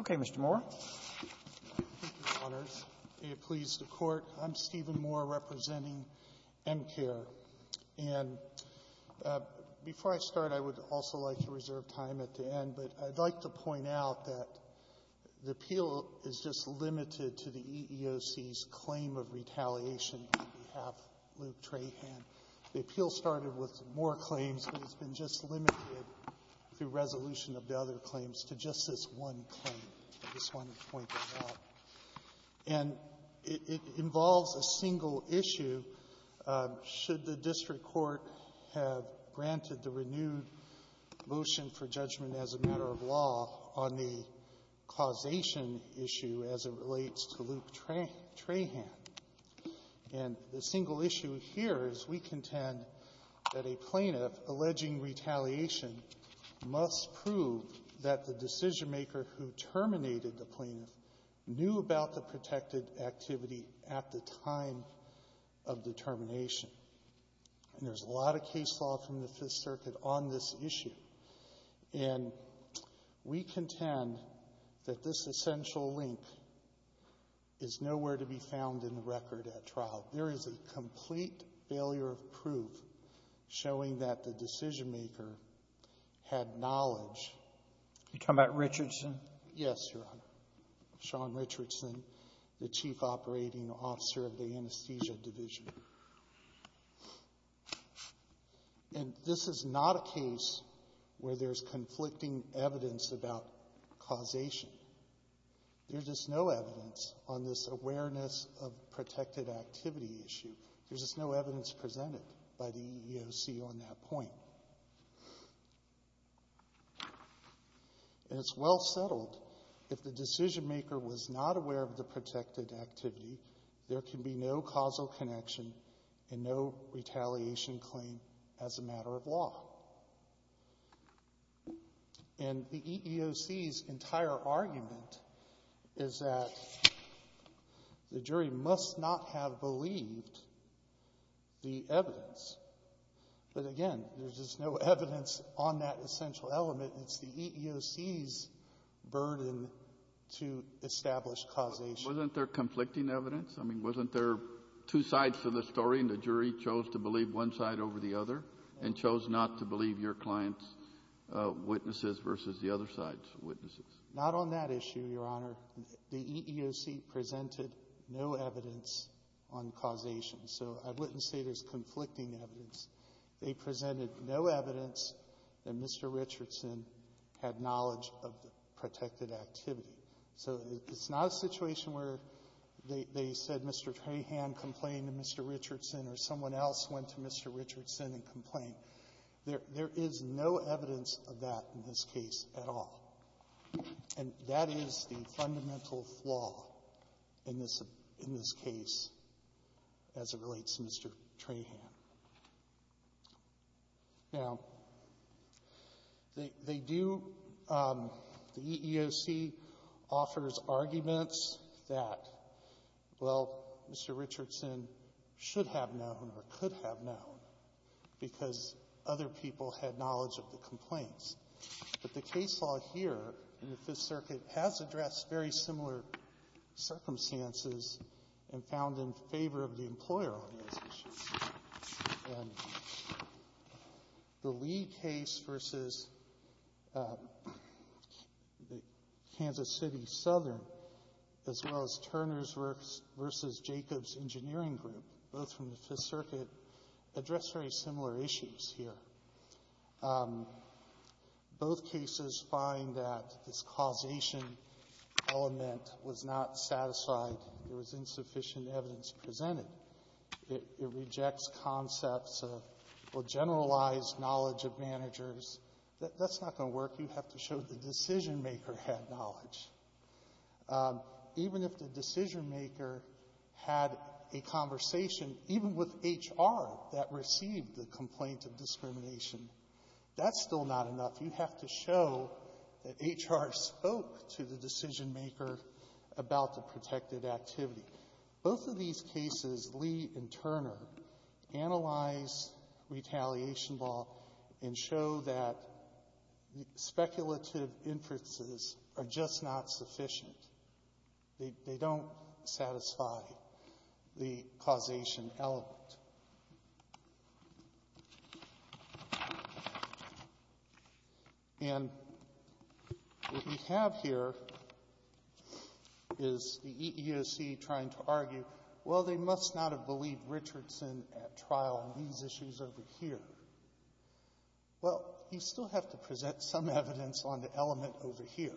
Okay, Mr. Moore. Thank you, Your Honors. May it please the Court, I'm Stephen Moore representing Emcare, and before I start, I would also like to reserve time at the end, but I'd like to point out that the appeal is just limited to the EEOC's claim of retaliation on behalf of Luke Trahan. The appeal started with more claims, but it's been just limited, through resolution of the other claims, to just this one claim. And it involves a single issue, should the District Court have granted the renewed motion for judgment as a matter of law on the causation issue as it relates to Luke Trahan. And the claim of retaliation must prove that the decisionmaker who terminated the plaintiff knew about the protected activity at the time of the termination. And there's a lot of case law from the Fifth Circuit on this issue, and we contend that this essential link is nowhere to be found in the record at trial. There is a complete failure of proof showing that the decisionmaker had knowledge. You're talking about Richardson? Yes, Your Honor. Shawn Richardson, the Chief Operating Officer of the Anesthesia Division. And this is not a case where there's conflicting evidence about causation. There's just no evidence on this awareness of protected activity issue. There's just no evidence presented by the EEOC on that point. And it's well settled, if the decisionmaker was not aware of the protected activity, there can be no causal connection and no retaliation claim as a matter of law. And the EEOC's entire argument is that the jury must not have believed the evidence. But again, there's just no evidence on that essential element. It's the EEOC's burden to establish causation. Wasn't there conflicting evidence? I mean, wasn't there two sides to the story and the one side over the other and chose not to believe your client's witnesses versus the other side's witnesses? Not on that issue, Your Honor. The EEOC presented no evidence on causation. So I wouldn't say there's conflicting evidence. They presented no evidence that Mr. Richardson had knowledge of the protected activity. So it's not a situation where they said Mr. Trahan complained to Mr. Richardson and complained. There is no evidence of that in this case at all. And that is the fundamental flaw in this case as it relates to Mr. Trahan. Now, they do — the EEOC offers arguments that, well, Mr. Richardson should have known or could have known because other people had knowledge of the complaints. But the case law here in the Fifth Circuit has addressed very similar circumstances and found in favor of the employer on those issues. And the Lee case versus the Kansas City Southern, as well as Turner's versus Jacob's engineering group, both from the Fifth Circuit, addressed very similar issues here. Both cases find that this causation element was not satisfied. There was insufficient evidence presented. It rejects concepts of, well, generalized knowledge of managers. That's not going to work. You have to show the decision-maker had knowledge. Even if the decision-maker had a conversation, even with H.R. that received the complaint of discrimination, that's still not enough. You have to show that H.R. spoke to the decision-maker about the protected activity. Both of these cases, Lee and Turner, analyze retaliation law and show that speculative inferences are just not sufficient. They don't satisfy the causation element. And what we have here is the EEOC trying to argue, well, they must not have believed Richardson at trial on these issues over here. Well, you still have to present some evidence on the element over here.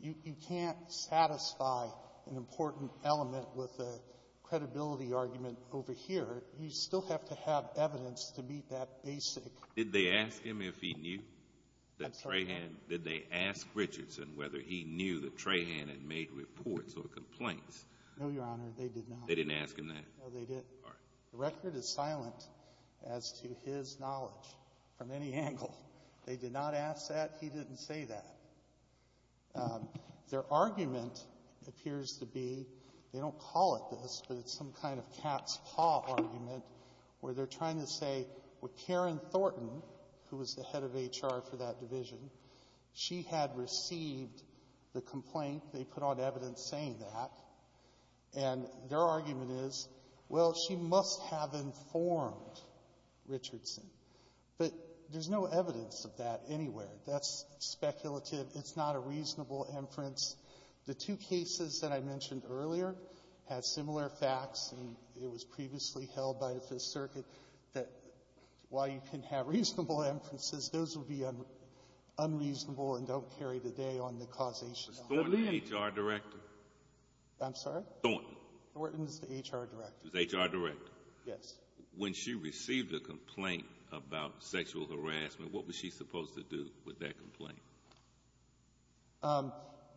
You can't satisfy an important element with a credibility argument over here. You still have to have evidence to meet that basic... Did they ask him if he knew that Trahan... I'm sorry? Did they ask Richardson whether he knew that Trahan had made reports or complaints? No, Your Honor, they did not. They didn't ask him that? No, they didn't. All right. The record is silent as to his knowledge from any angle. They did not ask that. He didn't say that. Their argument appears to be, they don't call it this, but it's some kind of cat's paw argument where they're trying to say, well, Karen Thornton, who was the head of HR for that division, she had received the complaint. They put on evidence saying that. And their argument is, well, she must have informed Richardson. But there's no speculative, it's not a reasonable inference. The two cases that I mentioned earlier had similar facts and it was previously held by the Fifth Circuit that while you can have reasonable inferences, those would be unreasonable and don't carry the day on the causation of... Was Thornton the HR director? I'm sorry? Thornton. Thornton was the HR director. Was the HR director? Yes. When she received a complaint about sexual harassment, what was she supposed to do with that complaint?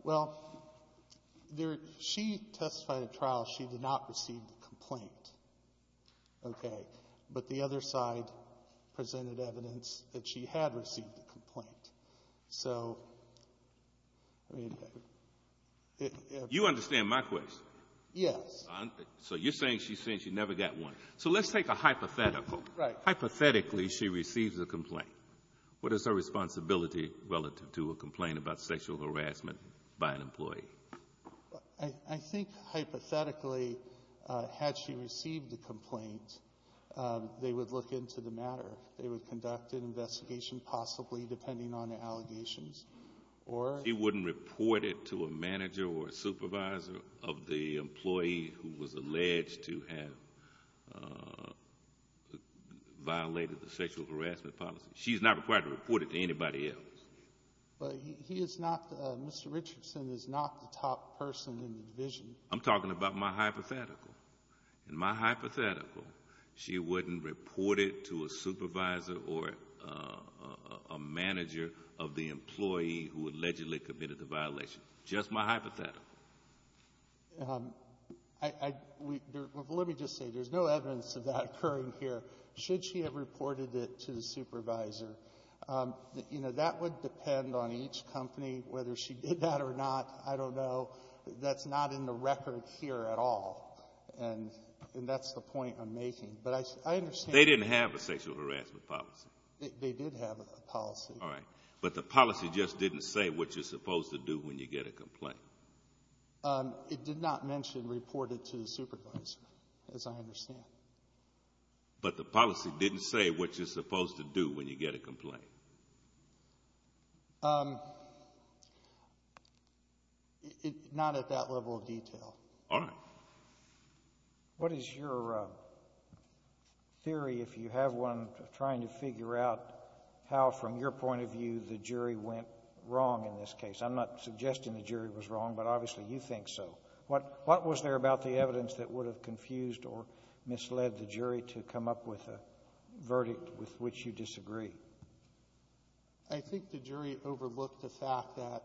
Well, she testified at trial, she did not receive the complaint. Okay. But the other side presented evidence that she had received the complaint. So, I mean... You understand my question? Yes. So you're saying she's saying she never got one. So let's take a hypothetical. Right. Hypothetically, she receives a complaint. What is her responsibility relative to a complaint about sexual harassment by an employee? I think hypothetically, had she received the complaint, they would look into the matter. They would conduct an investigation possibly depending on the allegations. Or... a supervisor of the employee who was alleged to have violated the sexual harassment policy. She's not required to report it to anybody else. But he is not... Mr. Richardson is not the top person in the division. I'm talking about my hypothetical. In my hypothetical, she wouldn't report it to a supervisor or a manager of the employee who allegedly committed the violation. Just my hypothetical. Let me just say, there's no evidence of that occurring here. Should she have reported it to the supervisor, that would depend on each company, whether she did that or not. I don't know. That's not in the record here at all. And that's the point I'm making. But I understand... They didn't have a sexual harassment policy. They did have a policy. All right. But the policy just didn't say what you're supposed to do when you get a complaint. It did not mention report it to the supervisor, as I understand. But the policy didn't say what you're supposed to do when you get a complaint. Not at that level of detail. All right. What is your theory, if you have one, of trying to figure out how, from your point of view, the jury went wrong in this case? I'm not suggesting the jury was wrong, but obviously you think so. What was there about the evidence that would have confused or misled the jury to come up with a verdict with which you disagree? I think the jury overlooked the fact that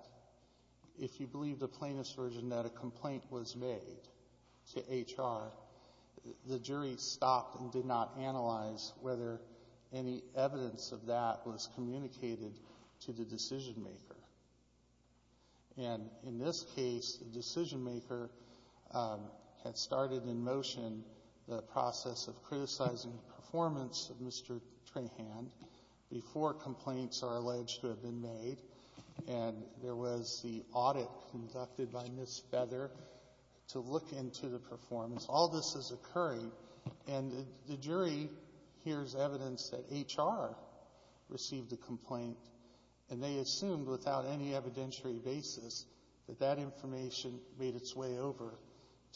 if you believe the plaintiff's version that a complaint was made to HR, the jury stopped and did not analyze whether any evidence of that was communicated to the decision-maker. And in this case, the decision-maker had started in motion the process of before complaints are alleged to have been made. And there was the audit conducted by Ms. Feather to look into the performance. All this is occurring. And the jury hears evidence that HR received a complaint. And they assumed, without any evidentiary basis, that that information made its way over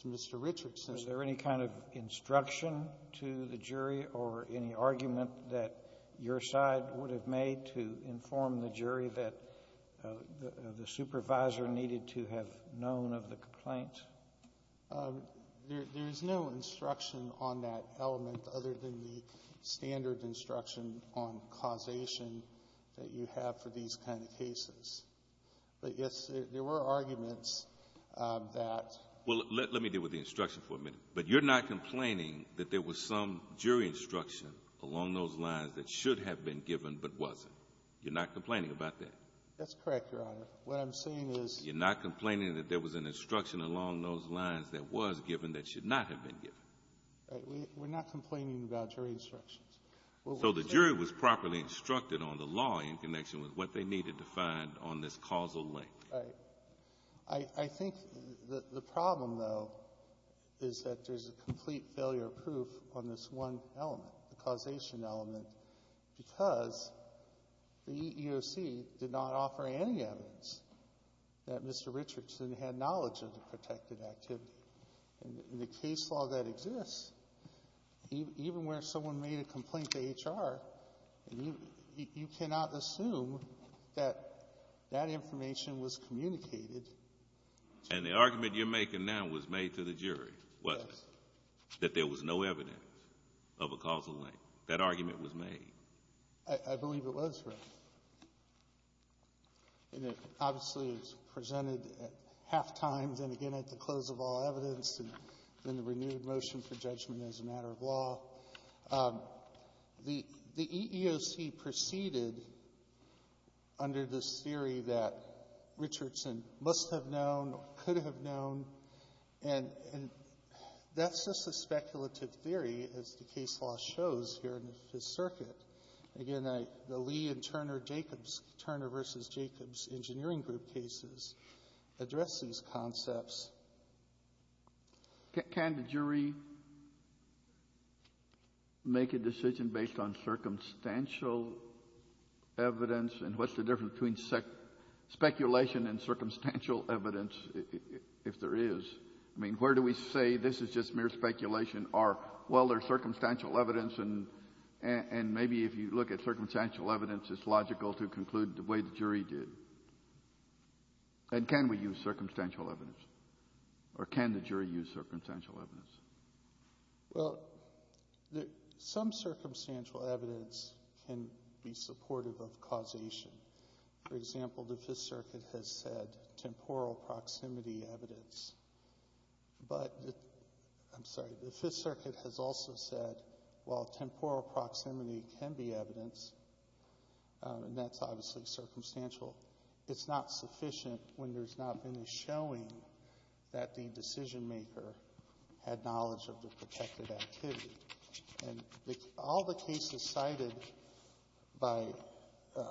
to Mr. Richardson. Was there any kind of instruction to the jury or any argument that your side would have made to inform the jury that the supervisor needed to have known of the complaint? There is no instruction on that element other than the standard instruction on causation that you have for these kind of cases. But, yes, there were arguments that— Well, let me deal with the instruction for a minute. But you're not complaining that there was some jury instruction along those lines that should have been given but wasn't? You're not complaining about that? That's correct, Your Honor. What I'm saying is— You're not complaining that there was an instruction along those lines that was given that should not have been given? We're not complaining about jury instructions. So the jury was properly instructed on the law in connection with what they needed to find on this causal link. I think the problem, though, is that there's a complete failure of proof on this one element, the causation element, because the EEOC did not offer any evidence that Mr. Richardson had knowledge of the protected activity. In the case law that exists, even where someone made a complaint to HR, you cannot assume that that was communicated. And the argument you're making now was made to the jury, wasn't it? Yes. That there was no evidence of a causal link. That argument was made. I believe it was, Your Honor. And it obviously was presented at halftime, then again at the close of all evidence, and then the renewed motion for judgment as a matter of law. The EEOC proceeded under this theory that Richardson must have known or could have known, and that's just a speculative theory as the case law shows here in the Fifth Circuit. Again, the Lee and Turner-Jacobs, Turner v. Jacobs Engineering Group cases address these concepts. Can the jury make a decision based on circumstantial evidence, and what's the difference between speculation and circumstantial evidence, if there is? I mean, where do we say this is just mere speculation or, well, there's circumstantial evidence, and maybe if you look at circumstantial evidence, it's logical to conclude the way the jury did. And can we use circumstantial evidence, or can the jury use circumstantial evidence? Well, some circumstantial evidence can be supportive of causation. For example, the Fifth Circuit has said temporal proximity evidence, but the Fifth Circuit has also said, well, temporal proximity can be evidence, and that's obviously circumstantial. It's not sufficient when there's not been a showing that the decision-maker had knowledge of the protected activity. And all the cases cited by the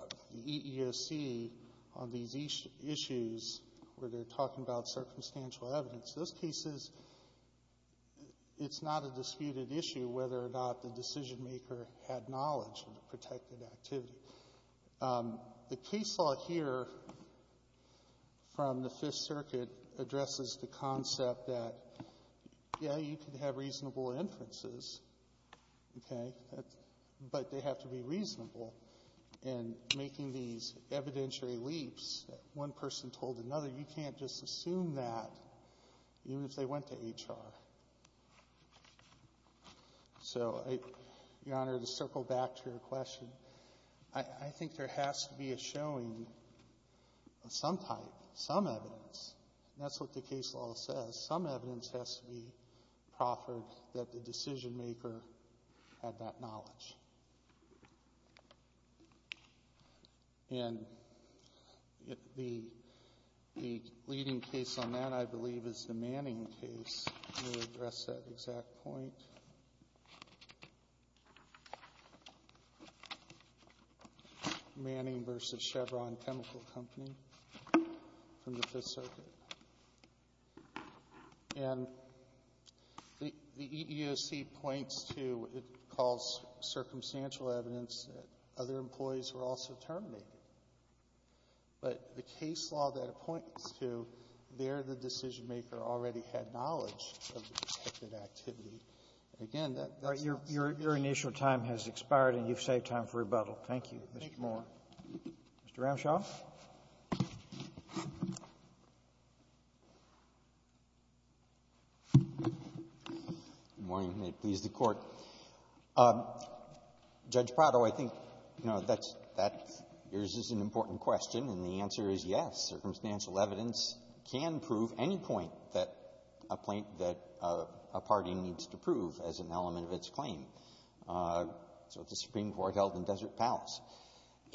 EEOC on these issues where they're talking about circumstantial evidence, those cases, it's not a disputed issue whether or not the decision-maker had knowledge of the protected activity. The case law here from the Fifth Circuit addresses the concept that, yeah, you can have reasonable inferences, okay, but they have to be reasonable. And making these evidentiary leaps, one person told another, you can't just assume that even if they went to HR. So, Your Honor, to circle back to your question, I think there has to be a showing of some type, some evidence. That's what the case law says. Some evidence has to be proffered that the decision-maker had that knowledge. And the leading case on that, I believe, is the Manning case. Let me address that exact point. Manning v. Chevron Chemical Company from the Fifth Circuit. And the EEOC points to what it calls circumstantial evidence that other employees were also terminated. But the case law that it points to, there the decision-maker already had knowledge of the protected activity. Again, that's not the case. Sotomayor, your initial time has expired, and you've saved time for rebuttal. Thank you, Mr. Moore. Mr. Ramshaw. Good morning, and may it please the Court. Judge Prado, I think, you know, that's an important question, and the answer is yes. Circumstantial evidence can prove any point that a party needs to prove as an element of its claim. So the Supreme Court held in Desert Palace.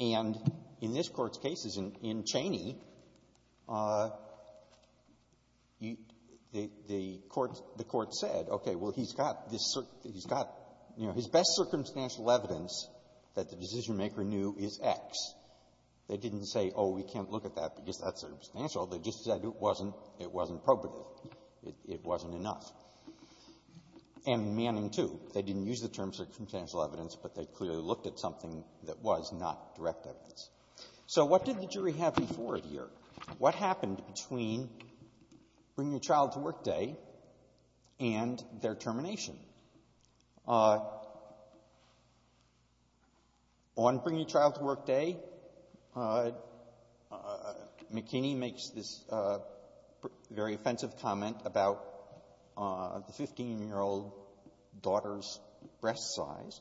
And in this Court's cases, in Cheney, the Court said, okay, well, he's got this he's got, you know, his best circumstantial evidence that the decision-maker knew is X. They didn't say, oh, we can't look at that because that's substantial. They just said it wasn't appropriate. It wasn't enough. And in Manning, too, they didn't use the term circumstantial evidence, but they clearly looked at something that was not direct evidence. So what did the jury have before it here? What happened between bring-your-child-to-work-day and their termination? On bring-your-child-to-work-day, McKinney makes this very offensive comment about the 15-year-old daughter's breast size.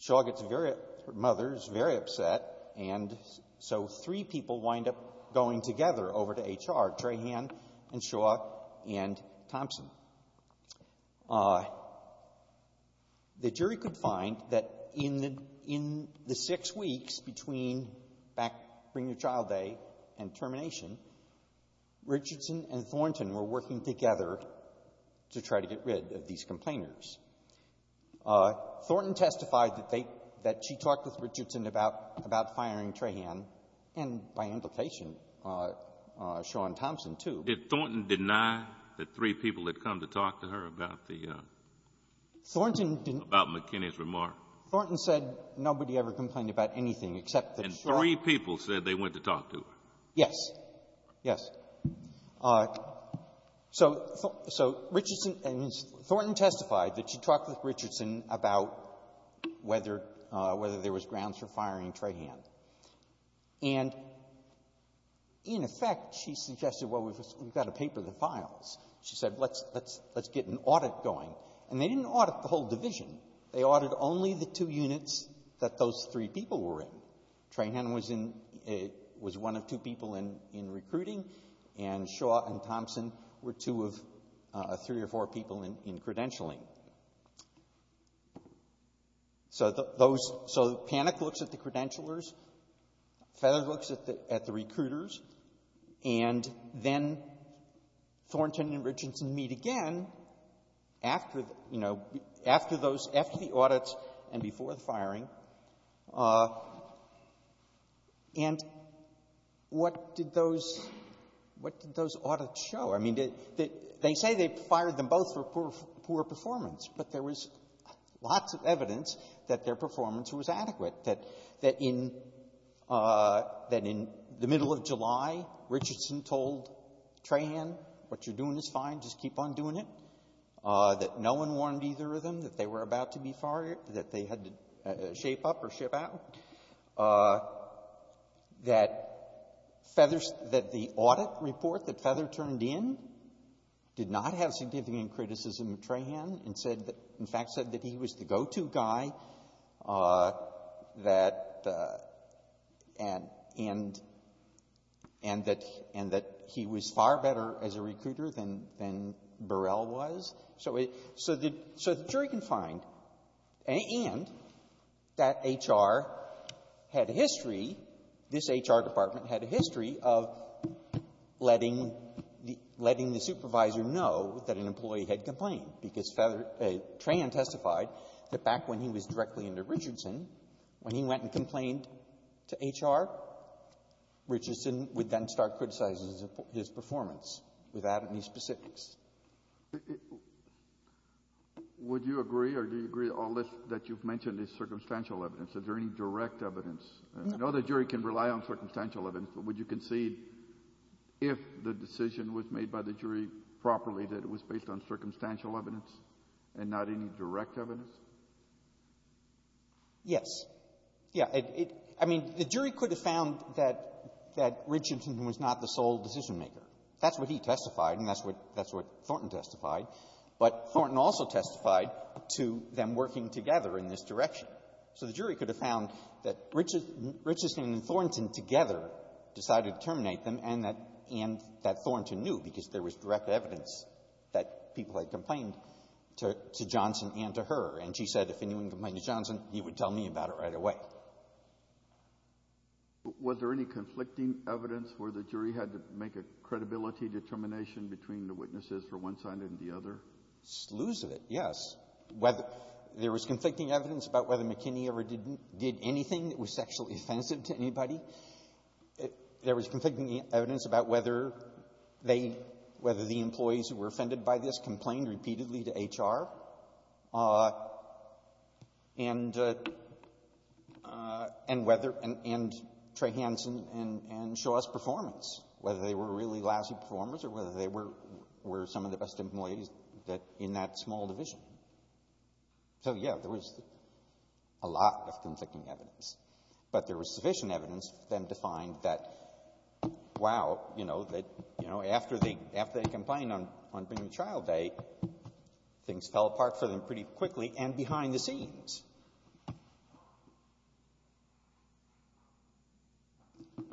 Shaw gets very upset, her mother is very upset, and so three people wind up going together over to HR, Trahan and Shaw and Thompson. The jury could find that in the six weeks between back bring-your-child-day and termination, Richardson and Thornton were working together to try to get rid of these complainers. Thornton testified that they — that she talked with Richardson about firing Trahan and, by implication, Shaw and Thompson, too. Did Thornton deny that three people had come to talk to her about the — Thornton didn't —— about McKinney's remark? Thornton said nobody ever complained about anything except that Shaw — And three people said they went to talk to her. Yes. Yes. So — so Richardson — I mean, Thornton testified that she talked with Richardson about whether — whether there was grounds for firing Trahan. And, in effect, she suggested, well, we've got to paper the files. She said, let's get an audit going. And they didn't audit the whole division. They audited only the two units that those three people were in. Trahan was in — was one of two people in — in recruiting, and Shaw and Thompson were two of three or four people in credentialing. So those — so Panek looks at the credentialers, Feather looks at the — at the recruiters, and then Thornton and Richardson meet again after, you know, after those — after the audits and before the firing. And what did those — what did those audits show? I mean, they — they say they fired them both for poor — poor performance, but there was lots of evidence that their performance was adequate, that — that in — that in the middle of July, Richardson told Trahan, what you're doing is fine, just keep on doing it, that no one warned either of them that they were about to be fired, that they had to shape up or ship out, that Feather — that the audit report that Feather turned in did not have significant criticism of Trahan and said that — in fact, said that he was the go-to guy, that — and — and that — and that he was far better as a recruiter than — than Burrell was. So it — so the — so the jury can find, and that H.R. had a history, this H.R. Department had a history of letting the — letting the supervisor know that an employee had complained, because Feather — Trahan testified that back when he was directly into Richardson, when he went and complained to H.R., Richardson would then start criticizing his performance without any specifics. Would you agree, or do you agree all this that you've mentioned is circumstantial evidence? Is there any direct evidence? No. I know the jury can rely on circumstantial evidence, but would you concede if the decision was made by the jury properly, that it was based on circumstantial evidence and not any direct evidence? Yes. Yeah. It — I mean, the jury could have found that — that Richardson was not the sole decision-maker. That's what he testified, and that's what — that's what Thornton testified. But Thornton also testified to them working together in this direction. So the jury could have found that Richardson and Thornton together decided to terminate them, and that — and that Thornton knew, because there was direct evidence that people had complained to — to Johnson and to her. And she said, if anyone complained to Johnson, he would tell me about it right away. Was there any conflicting evidence where the jury had to make a credibility determination between the witnesses for one side and the other? Slews of it, yes. Whether — there was conflicting evidence about whether McKinney ever didn't — did anything that was sexually offensive to anybody. There was conflicting evidence about whether they — whether the employees who were offended by this complained repeatedly to H.R. and — and whether — and Trey Hanson and Shaw's performance, whether they were really lousy performers or whether they were — were some of the best employees that — in that small division. So, yeah, there was a lot of conflicting evidence. But there was sufficient evidence for them to find that wow, you know, that, you know, after they — after they complained on — on Pregnant Child Day, things fell apart for them pretty quickly and behind the scenes.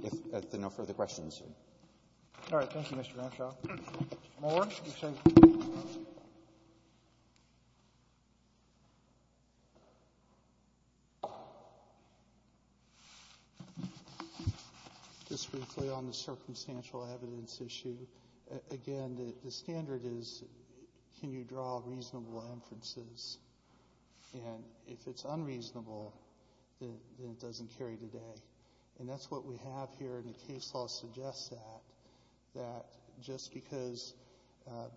If there are no further questions. All right. Thank you, Mr. McShaw. Mr. Moore, you can take — Just briefly on the circumstantial evidence issue, again, the — the standard is can you draw reasonable inferences? And if it's unreasonable, then it doesn't carry today. And that's what we have here, and the case law suggests that, that just because an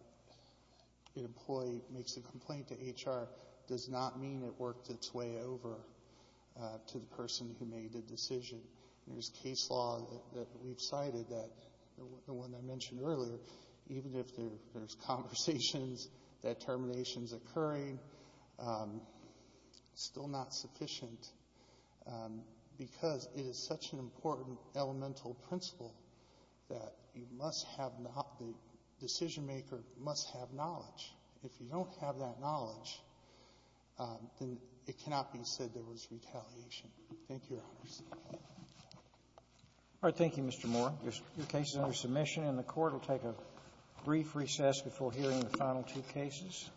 employee makes a complaint to H.R. does not mean it worked its way over to the person who made the decision. There's case law that we've cited that — the one I mentioned earlier, even if there's conversations, determinations occurring, still not sufficient because it is such an important elemental principle that you must have not — the decision-maker must have knowledge. If you don't have that knowledge, then it cannot be said there was retaliation. Thank you, Your Honor. All right. Thank you, Mr. Moore. Your case is under submission, and the Court will take a brief recess before hearing the final two cases.